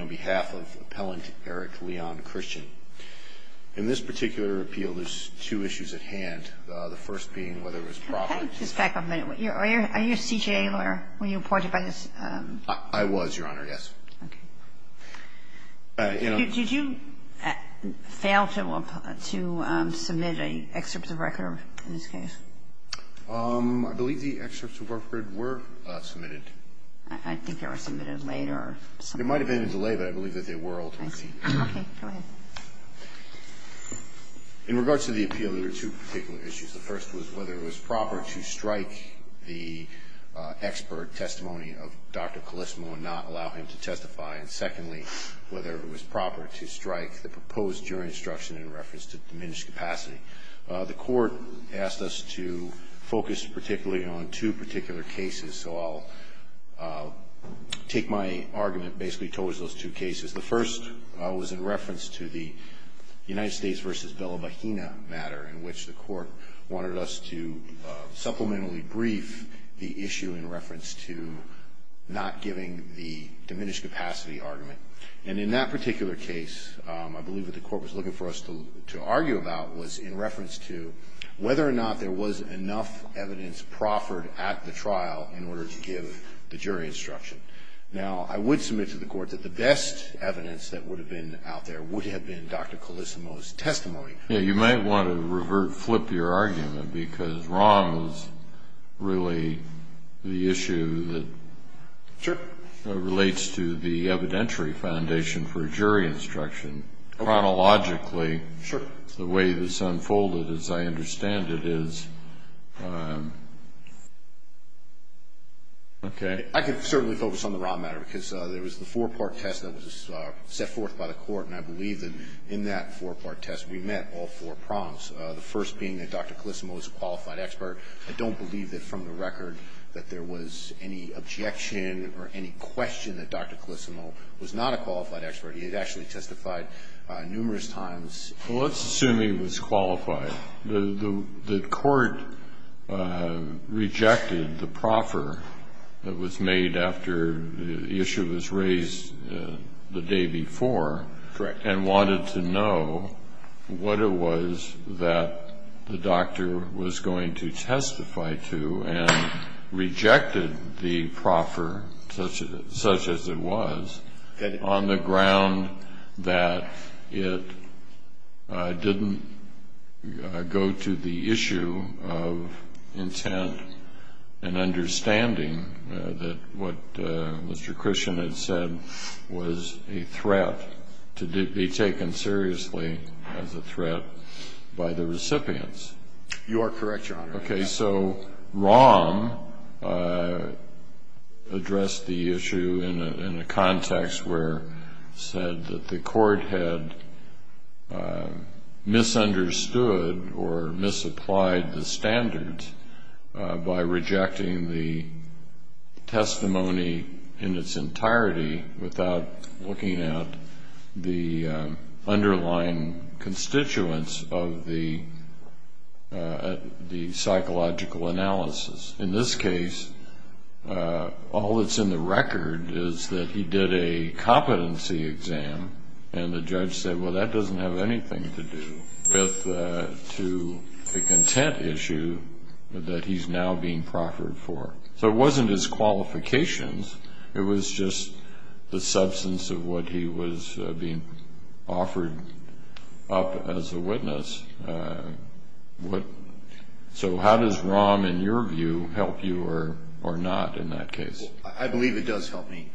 on behalf of appellant Eric Leon Christian. In this particular appeal, there's two issues at hand, the first being whether it was profit. Can I just back up a minute? Are you a CJA lawyer? Were you appointed by this? I was, Your Honor, yes. Okay. Did you fail to submit an excerpt of record in this case? I believe the excerpts of record were submitted. I think they were submitted later. It might have been in delay, but I believe that they were ultimately submitted. Okay, go ahead. In regards to the appeal, there were two particular issues. The first was whether it was proper to strike the expert testimony of Dr. Calisimo and not allow him to testify, and secondly, whether it was proper to strike the proposed jury instruction in reference to diminished capacity. The court asked us to focus particularly on two particular cases, so I'll take my argument basically towards those two cases. The first was in reference to the United States v. Bella Bohena matter in which the court wanted us to supplementally brief the issue in reference to not giving the diminished capacity argument. And in that particular case, I believe what the court was looking for us to argue about was in reference to whether or not there was enough evidence proffered at the trial in order to give the jury instruction. Now, I would submit to the court that the best evidence that would have been out there would have been Dr. Calisimo's testimony. Yeah, you might want to flip your argument because wrong is really the issue that relates to the evidentiary foundation for jury instruction. Chronologically, the way this unfolded, as I understand it, is... Okay. I can certainly focus on the Ron matter because there was the four-part test that was set forth by the court, and I believe that in that four-part test we met all four prompts, the first being that Dr. Calisimo is a qualified expert. I don't believe that from the record that there was any objection or any question that Dr. Calisimo was not a qualified expert. He had actually testified numerous times. Well, let's assume he was qualified. Correct. The court rejected the proffer that was made after the issue was raised the day before... Correct. ...and wanted to know what it was that the doctor was going to testify to, and rejected the proffer such as it was on the ground that it didn't go to the issue of intent and understanding, that what Mr. Christian had said was a threat to be taken seriously as a threat by the recipients. You are correct, Your Honor. Okay. So Ron addressed the issue in a context where he said that the court had misunderstood or misapplied the standards by rejecting the testimony in its entirety without looking at the underlying constituents of the psychological analysis. In this case, all that's in the record is that he did a competency exam, and the judge said, well, that doesn't have anything to do with the content issue that he's now being proffered for. So it wasn't his qualifications. It was just the substance of what he was being offered up as a witness. So how does ROM, in your view, help you or not in that case? I believe it does help me.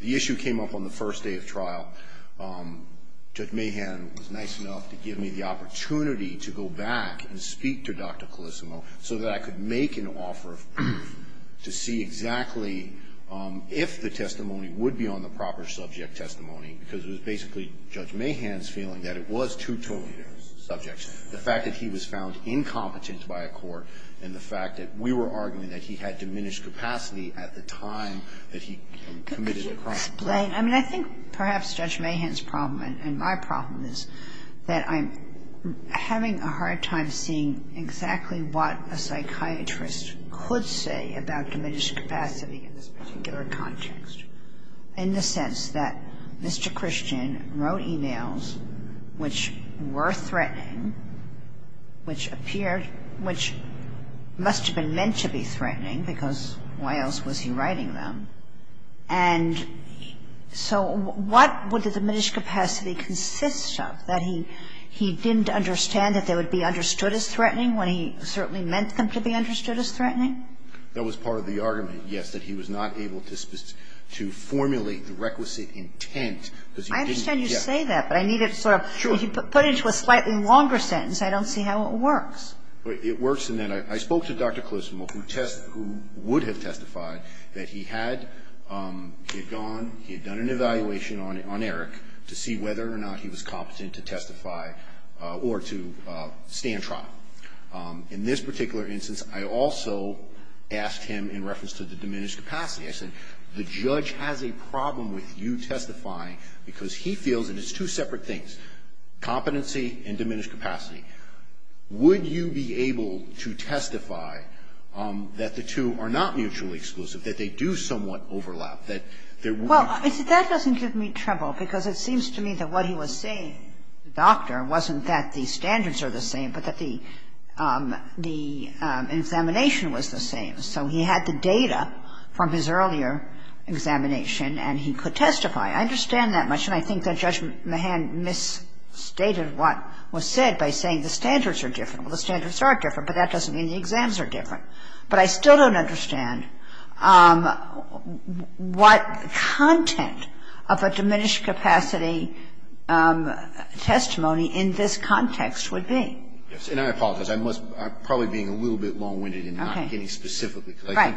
The issue came up on the first day of trial. Judge Mahan was nice enough to give me the opportunity to go back and speak to Dr. Colissimo so that I could make an offer to see exactly if the testimony would be on the proper subject testimony, because it was basically Judge Mahan's feeling that it was too totally subject, the fact that he was found incompetent by a court, and the fact that we were arguing that he had diminished capacity at the time that he committed the crime. Could you explain? I mean, I think perhaps Judge Mahan's problem and my problem is that I'm having a hard time seeing exactly what a psychiatrist could say about diminished capacity in this particular context, in the sense that Mr. Christian wrote e-mails which were threatening, which must have been meant to be threatening, because why else was he writing them, and so what would the diminished capacity consist of, that he didn't understand that they would be understood as threatening when he certainly meant them to be understood as threatening? That was part of the argument, yes, that he was not able to formulate the requisite intent, because he didn't, yes. I understand you say that, but I need it sort of put into a slightly longer sentence. I don't see how it works. It works in that I spoke to Dr. Colissimo, who would have testified that he had gone, he had done an evaluation on Eric to see whether or not he was competent to testify or to stand trial. In this particular instance, I also asked him in reference to the diminished capacity. I said, the judge has a problem with you testifying because he feels, and it's two separate things, competency and diminished capacity. Would you be able to testify that the two are not mutually exclusive, that they do somewhat overlap, that there would be? Well, that doesn't give me trouble, because it seems to me that what he was saying to the doctor wasn't that the standards are the same, but that the examination was the same. So he had the data from his earlier examination, and he could testify. I understand that much, and I think that Judge Mahan misstated what was said by saying the standards are different. Well, the standards are different, but that doesn't mean the exams are different. But I still don't understand what content of a diminished capacity testimony in this context would be. And I apologize. I'm probably being a little bit long-winded in not getting specifically, Right.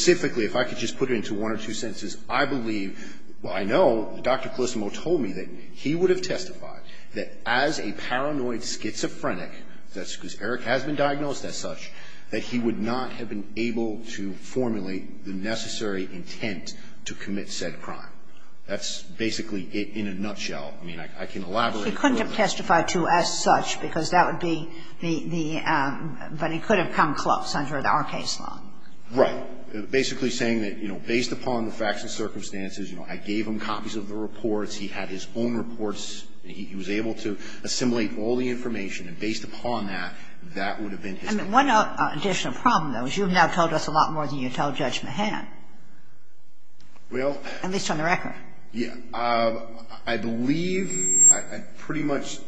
if I could just put it into one or two sentences, I believe, well, I know Dr. Colissimo told me that he would have testified that as a paranoid schizophrenic, that's because Eric has been diagnosed as such, that he would not have been able to formulate the necessary intent to commit said crime. That's basically it in a nutshell. I mean, I can elaborate. He couldn't have testified to as such, because that would be the, but he could have come close under our case law. Right. Basically saying that, you know, based upon the facts and circumstances, you know, I gave him copies of the reports. He had his own reports, and he was able to assimilate all the information, and based upon that, that would have been his case. I mean, one additional problem, though, is you have now told us a lot more than you told Judge Mahan. Well. At least on the record. Yeah. I believe pretty much,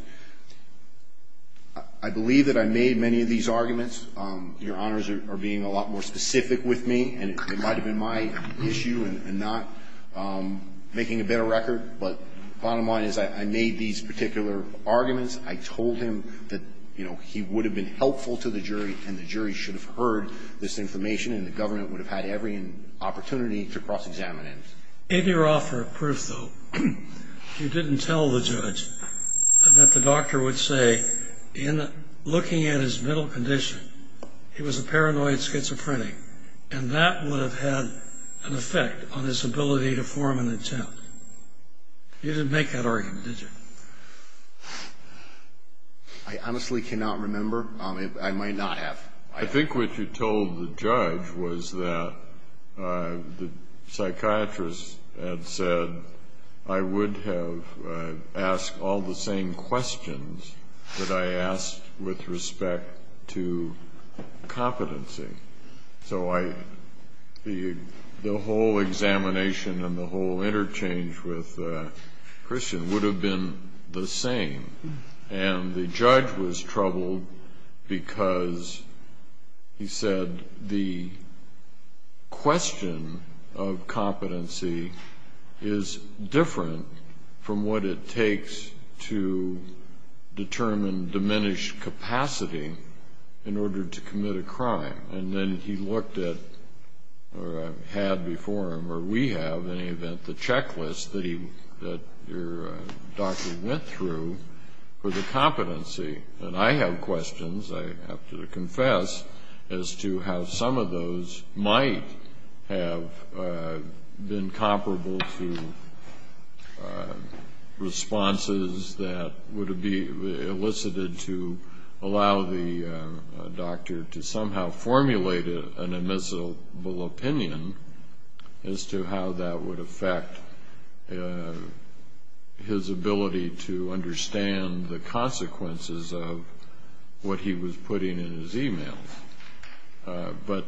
I believe that I made many of these arguments. Your honors are being a lot more specific with me, and it might have been my issue and not making a better record, but bottom line is I made these particular arguments. I told him that, you know, he would have been helpful to the jury, and the jury should have heard this information, and the government would have had every opportunity to cross-examine him. In your offer of proof, though, you didn't tell the judge that the doctor would say, in looking at his mental condition, he was a paranoid schizophrenic, and that would have had an effect on his ability to form an intent. You didn't make that argument, did you? I honestly cannot remember. I might not have. I think what you told the judge was that the psychiatrist had said, I would have asked all the same questions that I asked with respect to competency. So the whole examination and the whole interchange with Christian would have been the same, and the judge was troubled because he said, the question of competency is different from what it takes to determine diminished capacity in order to commit a crime. And then he looked at, or had before him, or we have, in any event, the checklist that your doctor went through for the competency. And I have questions, I have to confess, as to how some of those might have been comparable to responses that would have been elicited to allow the doctor to somehow formulate an admissible opinion as to how that would affect his ability to understand the consequences of what he was putting in his e-mail. But,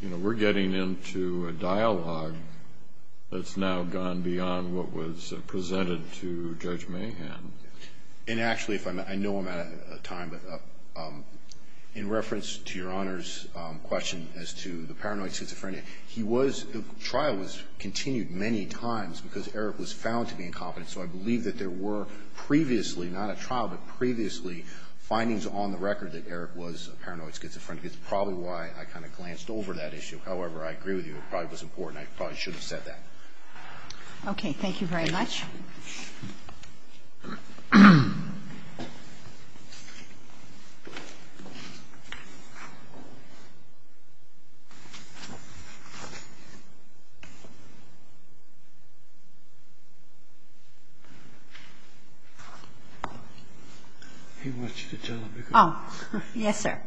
you know, we're getting into a dialogue that's now gone beyond what was presented to Judge Mahan. And actually, I know I'm out of time, but in reference to Your Honor's question as to the paranoid schizophrenia, he was, the trial was continued many times because Eric was found to be incompetent. So I believe that there were previously, not a trial, but previously, findings on the record that Eric was a paranoid schizophrenic. It's probably why I kind of glanced over that issue. However, I agree with you. It probably was important. I probably should have said that. Okay. Thank you very much. He wants you to tell him to go. Oh. Yes, sir.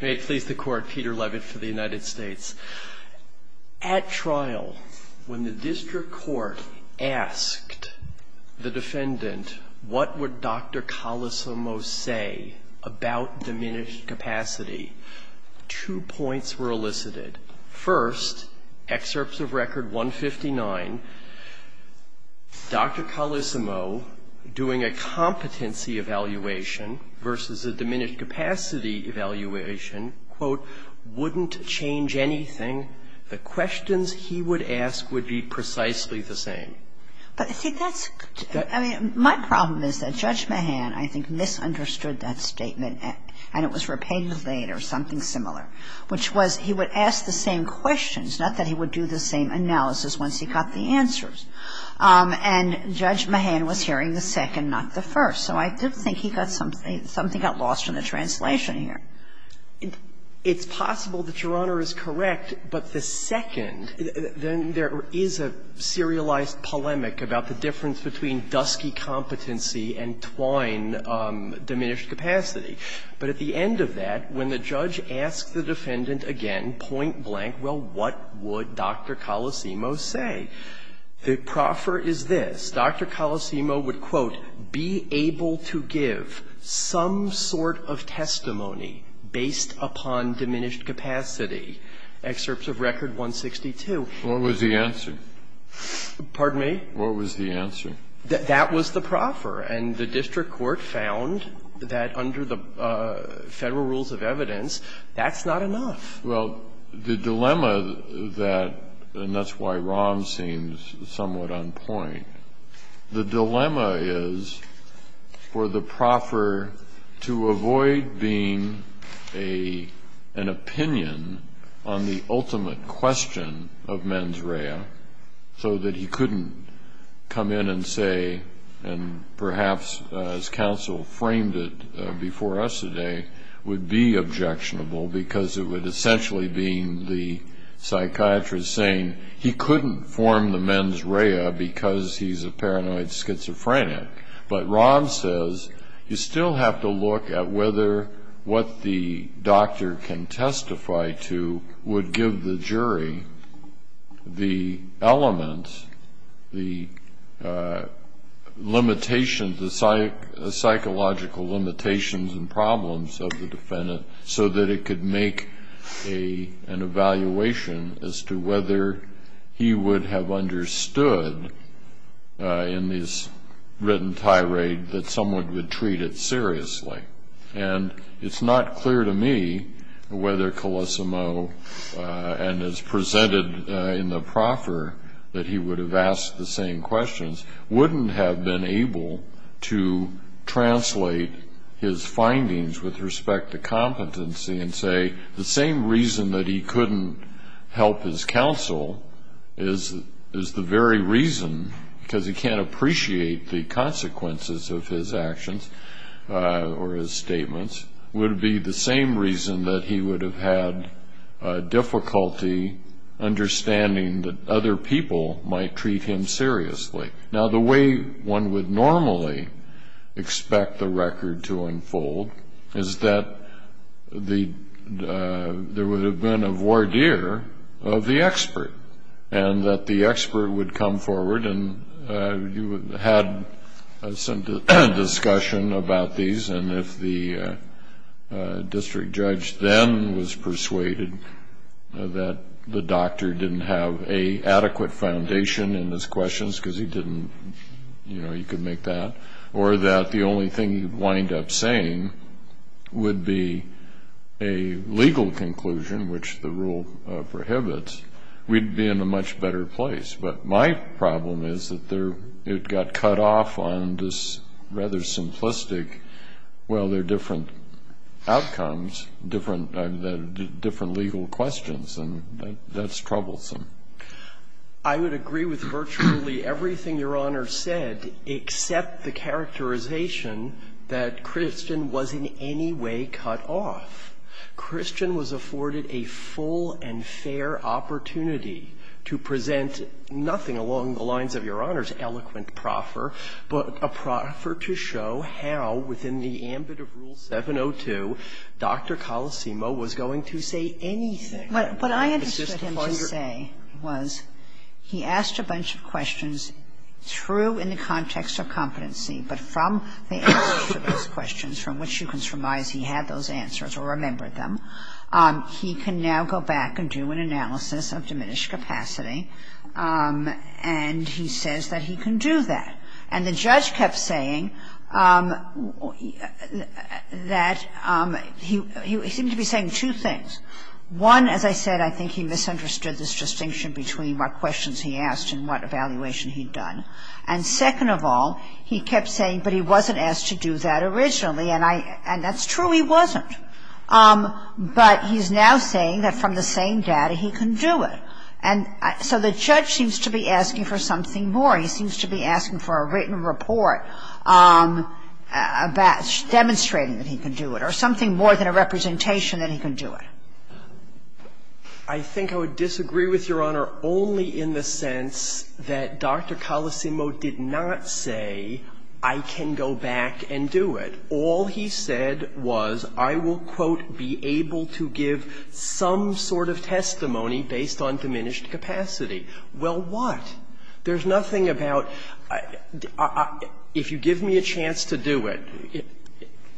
May it please the Court. Peter Levitt for the United States. At trial, when the district court asked the defendant what would Dr. Colosomo say about diminished capacity, two points were elicited. First, excerpts of Record 159, Dr. Colosomo doing a competency evaluation versus a diminished capacity evaluation, quote, wouldn't change anything. The questions he would ask would be precisely the same. But, see, that's, I mean, my problem is that Judge Mahan, I think, misunderstood that statement, and it was repeated later, something similar, which was he would ask the same questions, not that he would do the same analysis once he got the answers. And Judge Mahan was hearing the second, not the first. So I do think he got something, something got lost in the translation here. It's possible that Your Honor is correct, but the second, then there is a serialized difference between dusky competency and twine diminished capacity. But at the end of that, when the judge asked the defendant again point blank, well, what would Dr. Colosomo say? The proffer is this. Dr. Colosomo would, quote, be able to give some sort of testimony based upon diminished capacity. Excerpts of Record 162. What was the answer? Pardon me? What was the answer? That was the proffer. And the district court found that under the Federal rules of evidence, that's not enough. Well, the dilemma that, and that's why wrong seems somewhat on point, the dilemma is for the proffer to avoid being an opinion on the ultimate question of mens rea so that he couldn't come in and say, and perhaps as counsel framed it before us today, would be objectionable because it would essentially be the psychiatrist saying, he couldn't form the mens rea because he's a paranoid schizophrenic. But Ron says, you still have to look at whether what the doctor can testify to would give the jury the element, the limitations, the psychological limitations and problems of the defendant so that it could make an evaluation as to whether he would have understood in this written tirade that someone would treat it seriously. And it's not clear to me whether Colosomo, and as presented in the proffer, that he would have asked the same questions, wouldn't have been able to translate his findings with respect to competency and say the same reason that he couldn't help his counsel is the very reason, because he can't appreciate the consequences of his actions or his statements, would be the same reason that he would have had difficulty understanding that other people might treat him seriously. Now the way one would normally expect the record to unfold is that there would have been a voir dire of the expert and that the expert would come forward and you would have had some discussion about these. And if the district judge then was persuaded that the doctor didn't have an adequate foundation in his questions, because he didn't, you know, he could make that, or that the only thing he would wind up saying would be a legal conclusion, which the rule prohibits, we'd be in a much better place. But my problem is that it got cut off on this rather simplistic, well, they're different outcomes, different legal questions, and that's troublesome. I would agree with virtually everything Your Honor said except the characterization that Christian was in any way cut off. Christian was afforded a full and fair opportunity to present nothing along the lines of Your Honor's eloquent proffer, but a proffer to show how, within the ambit of Rule 702, Dr. Colosimo was going to say anything. But I understood him to say was, he asked a bunch of questions true in the context of competency, but from the answers to those questions, from which you can surmise he had those answers or remembered them. He can now go back and do an analysis of diminished capacity, and he says that he can do that. And the judge kept saying that he seemed to be saying two things. One, as I said, I think he misunderstood this distinction between what questions he asked and what evaluation he'd done. And second of all, he kept saying, but he wasn't asked to do that originally, and I – and that's true, he wasn't. But he's now saying that from the same data he can do it. And so the judge seems to be asking for something more. He seems to be asking for a written report demonstrating that he can do it, or something more than a representation that he can do it. I think I would disagree with Your Honor only in the sense that Dr. Colosimo did not say, I can go back and do it. All he said was, I will, quote, be able to give some sort of testimony based on diminished capacity. Well, what? There's nothing about, if you give me a chance to do it.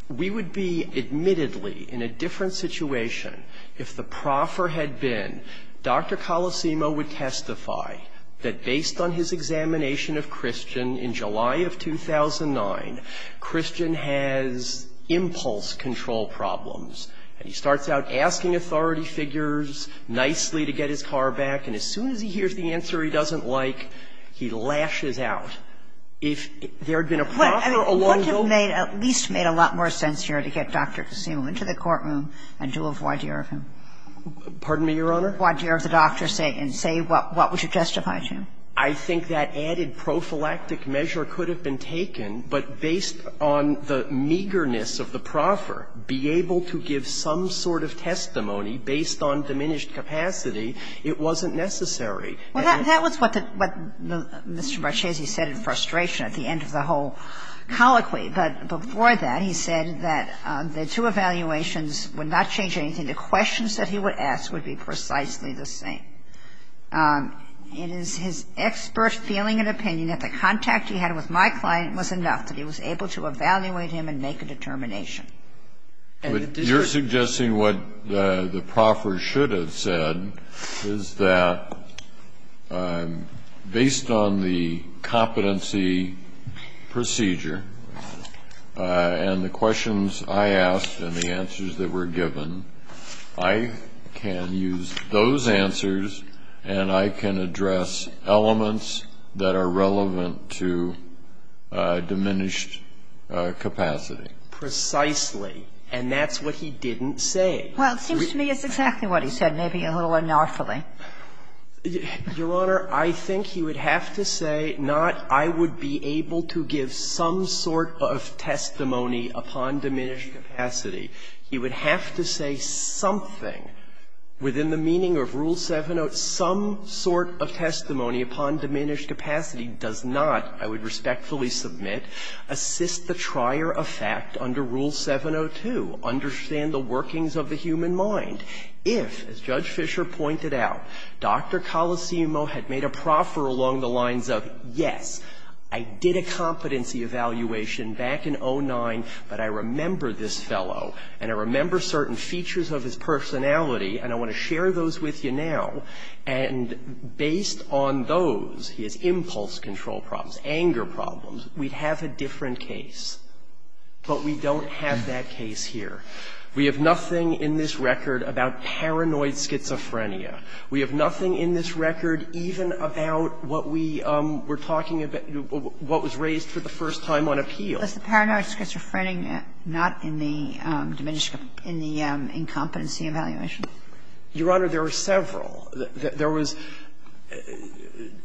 We would be admittedly in a different situation if the proffer had been, Dr. Colosimo would testify that based on his examination of Christian in July of 2009, Christian has impulse control problems. And he starts out asking authority figures nicely to get his car back, and as soon as he hears the answer he doesn't like, he lashes out. If there had been a proffer a long ago – What would have made – at least made a lot more sense here to get Dr. Colosimo into the courtroom and do a voir dire of him? Pardon me, Your Honor? To do a voir dire of the doctor and say what would you justify to him? I think that added prophylactic measure could have been taken, but based on the meagerness of the proffer, be able to give some sort of testimony based on diminished capacity, it wasn't necessary. Well, that was what Mr. Marchese said in frustration at the end of the whole colloquy. But before that, he said that the two evaluations would not change anything. The questions that he would ask would be precisely the same. It is his expert feeling and opinion that the contact he had with my client was enough that he was able to evaluate him and make a determination. But you're suggesting what the proffer should have said is that based on the competency of the proffer, he would have been able to evaluate him and make a determination based on the capacity of the proffer. Yes. And that's what he didn't say. Well, it seems to me it's exactly what he said, maybe a little unlawfully. Your Honor, I think he would have to say not, I would be unlawfully, but I would be able to give some sort of testimony upon diminished capacity. He would have to say something within the meaning of Rule 702. Some sort of testimony upon diminished capacity does not, I would respectfully submit, assist the trier of fact under Rule 702, understand the workings of the human mind, if, as Judge Fisher pointed out, Dr. Colosimo had made a proffer along the lines of, yes, I did a competency evaluation back in 2009, but I remember this fellow and I remember certain features of his personality and I want to share those with you now, and based on those, his impulse control problems, anger problems, we'd have a different case, but we don't have that case here. We have nothing in this record about paranoid schizophrenia. We have nothing in this record even about what we were talking about, what was raised for the first time on appeal. Was the paranoid schizophrenia not in the incompetency evaluation? Your Honor, there were several. There was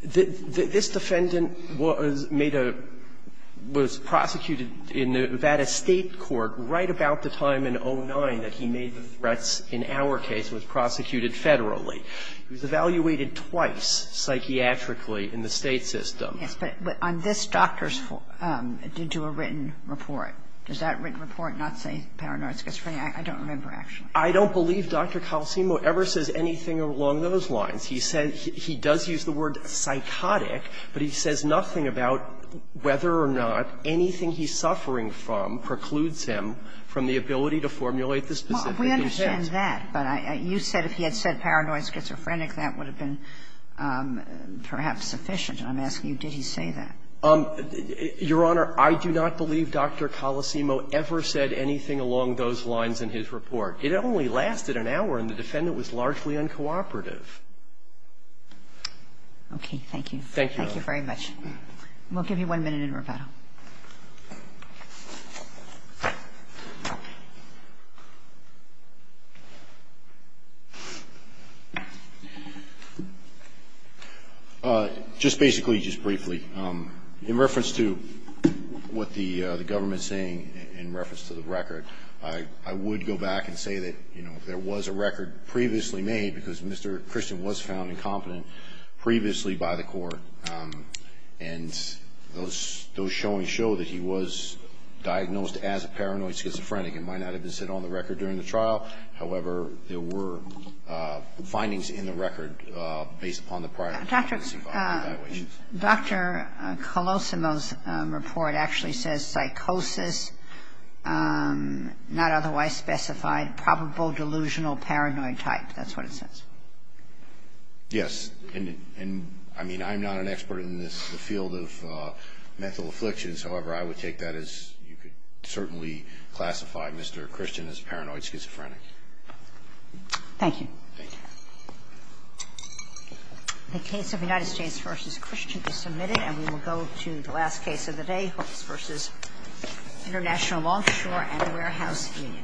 the this defendant was made a, was prosecuted in Nevada State Court right about the time in 09 that he made the threats in our case was prosecuted federally. He was evaluated twice psychiatrically in the State system. Yes, but on this doctor's report, did you do a written report? Does that written report not say paranoid schizophrenia? I don't remember, actually. I don't believe Dr. Colosimo ever says anything along those lines. He said he does use the word psychotic, but he says nothing about whether or not anything he's suffering from precludes him from the ability to formulate the specific incentives. I understand that, but you said if he had said paranoid schizophrenic, that would have been perhaps sufficient, and I'm asking you, did he say that? Your Honor, I do not believe Dr. Colosimo ever said anything along those lines in his report. It only lasted an hour, and the defendant was largely uncooperative. Okay. Thank you. Thank you. Thank you very much. We'll give you one minute in rebuttal. Just basically, just briefly, in reference to what the government's saying in reference to the record, I would go back and say that there was a record previously made, because Mr. Christian was found incompetent previously by the court, and those showings show that he was diagnosed as a paranoid schizophrenic. It might not have been set on the record during the trial. However, there were findings in the record based upon the prior evidence-involving evaluations. Dr. Colosimo's report actually says psychosis, not otherwise specified, probable delusional paranoid type. That's what it says. Yes. And, I mean, I'm not an expert in this field of mental afflictions. However, I would take that as you could certainly classify Mr. Christian as paranoid schizophrenic. Thank you. Thank you. The case of United States v. Christian is submitted, and we will go to the last case of the day, Hooks v. International Longshore and the Warehouse Union.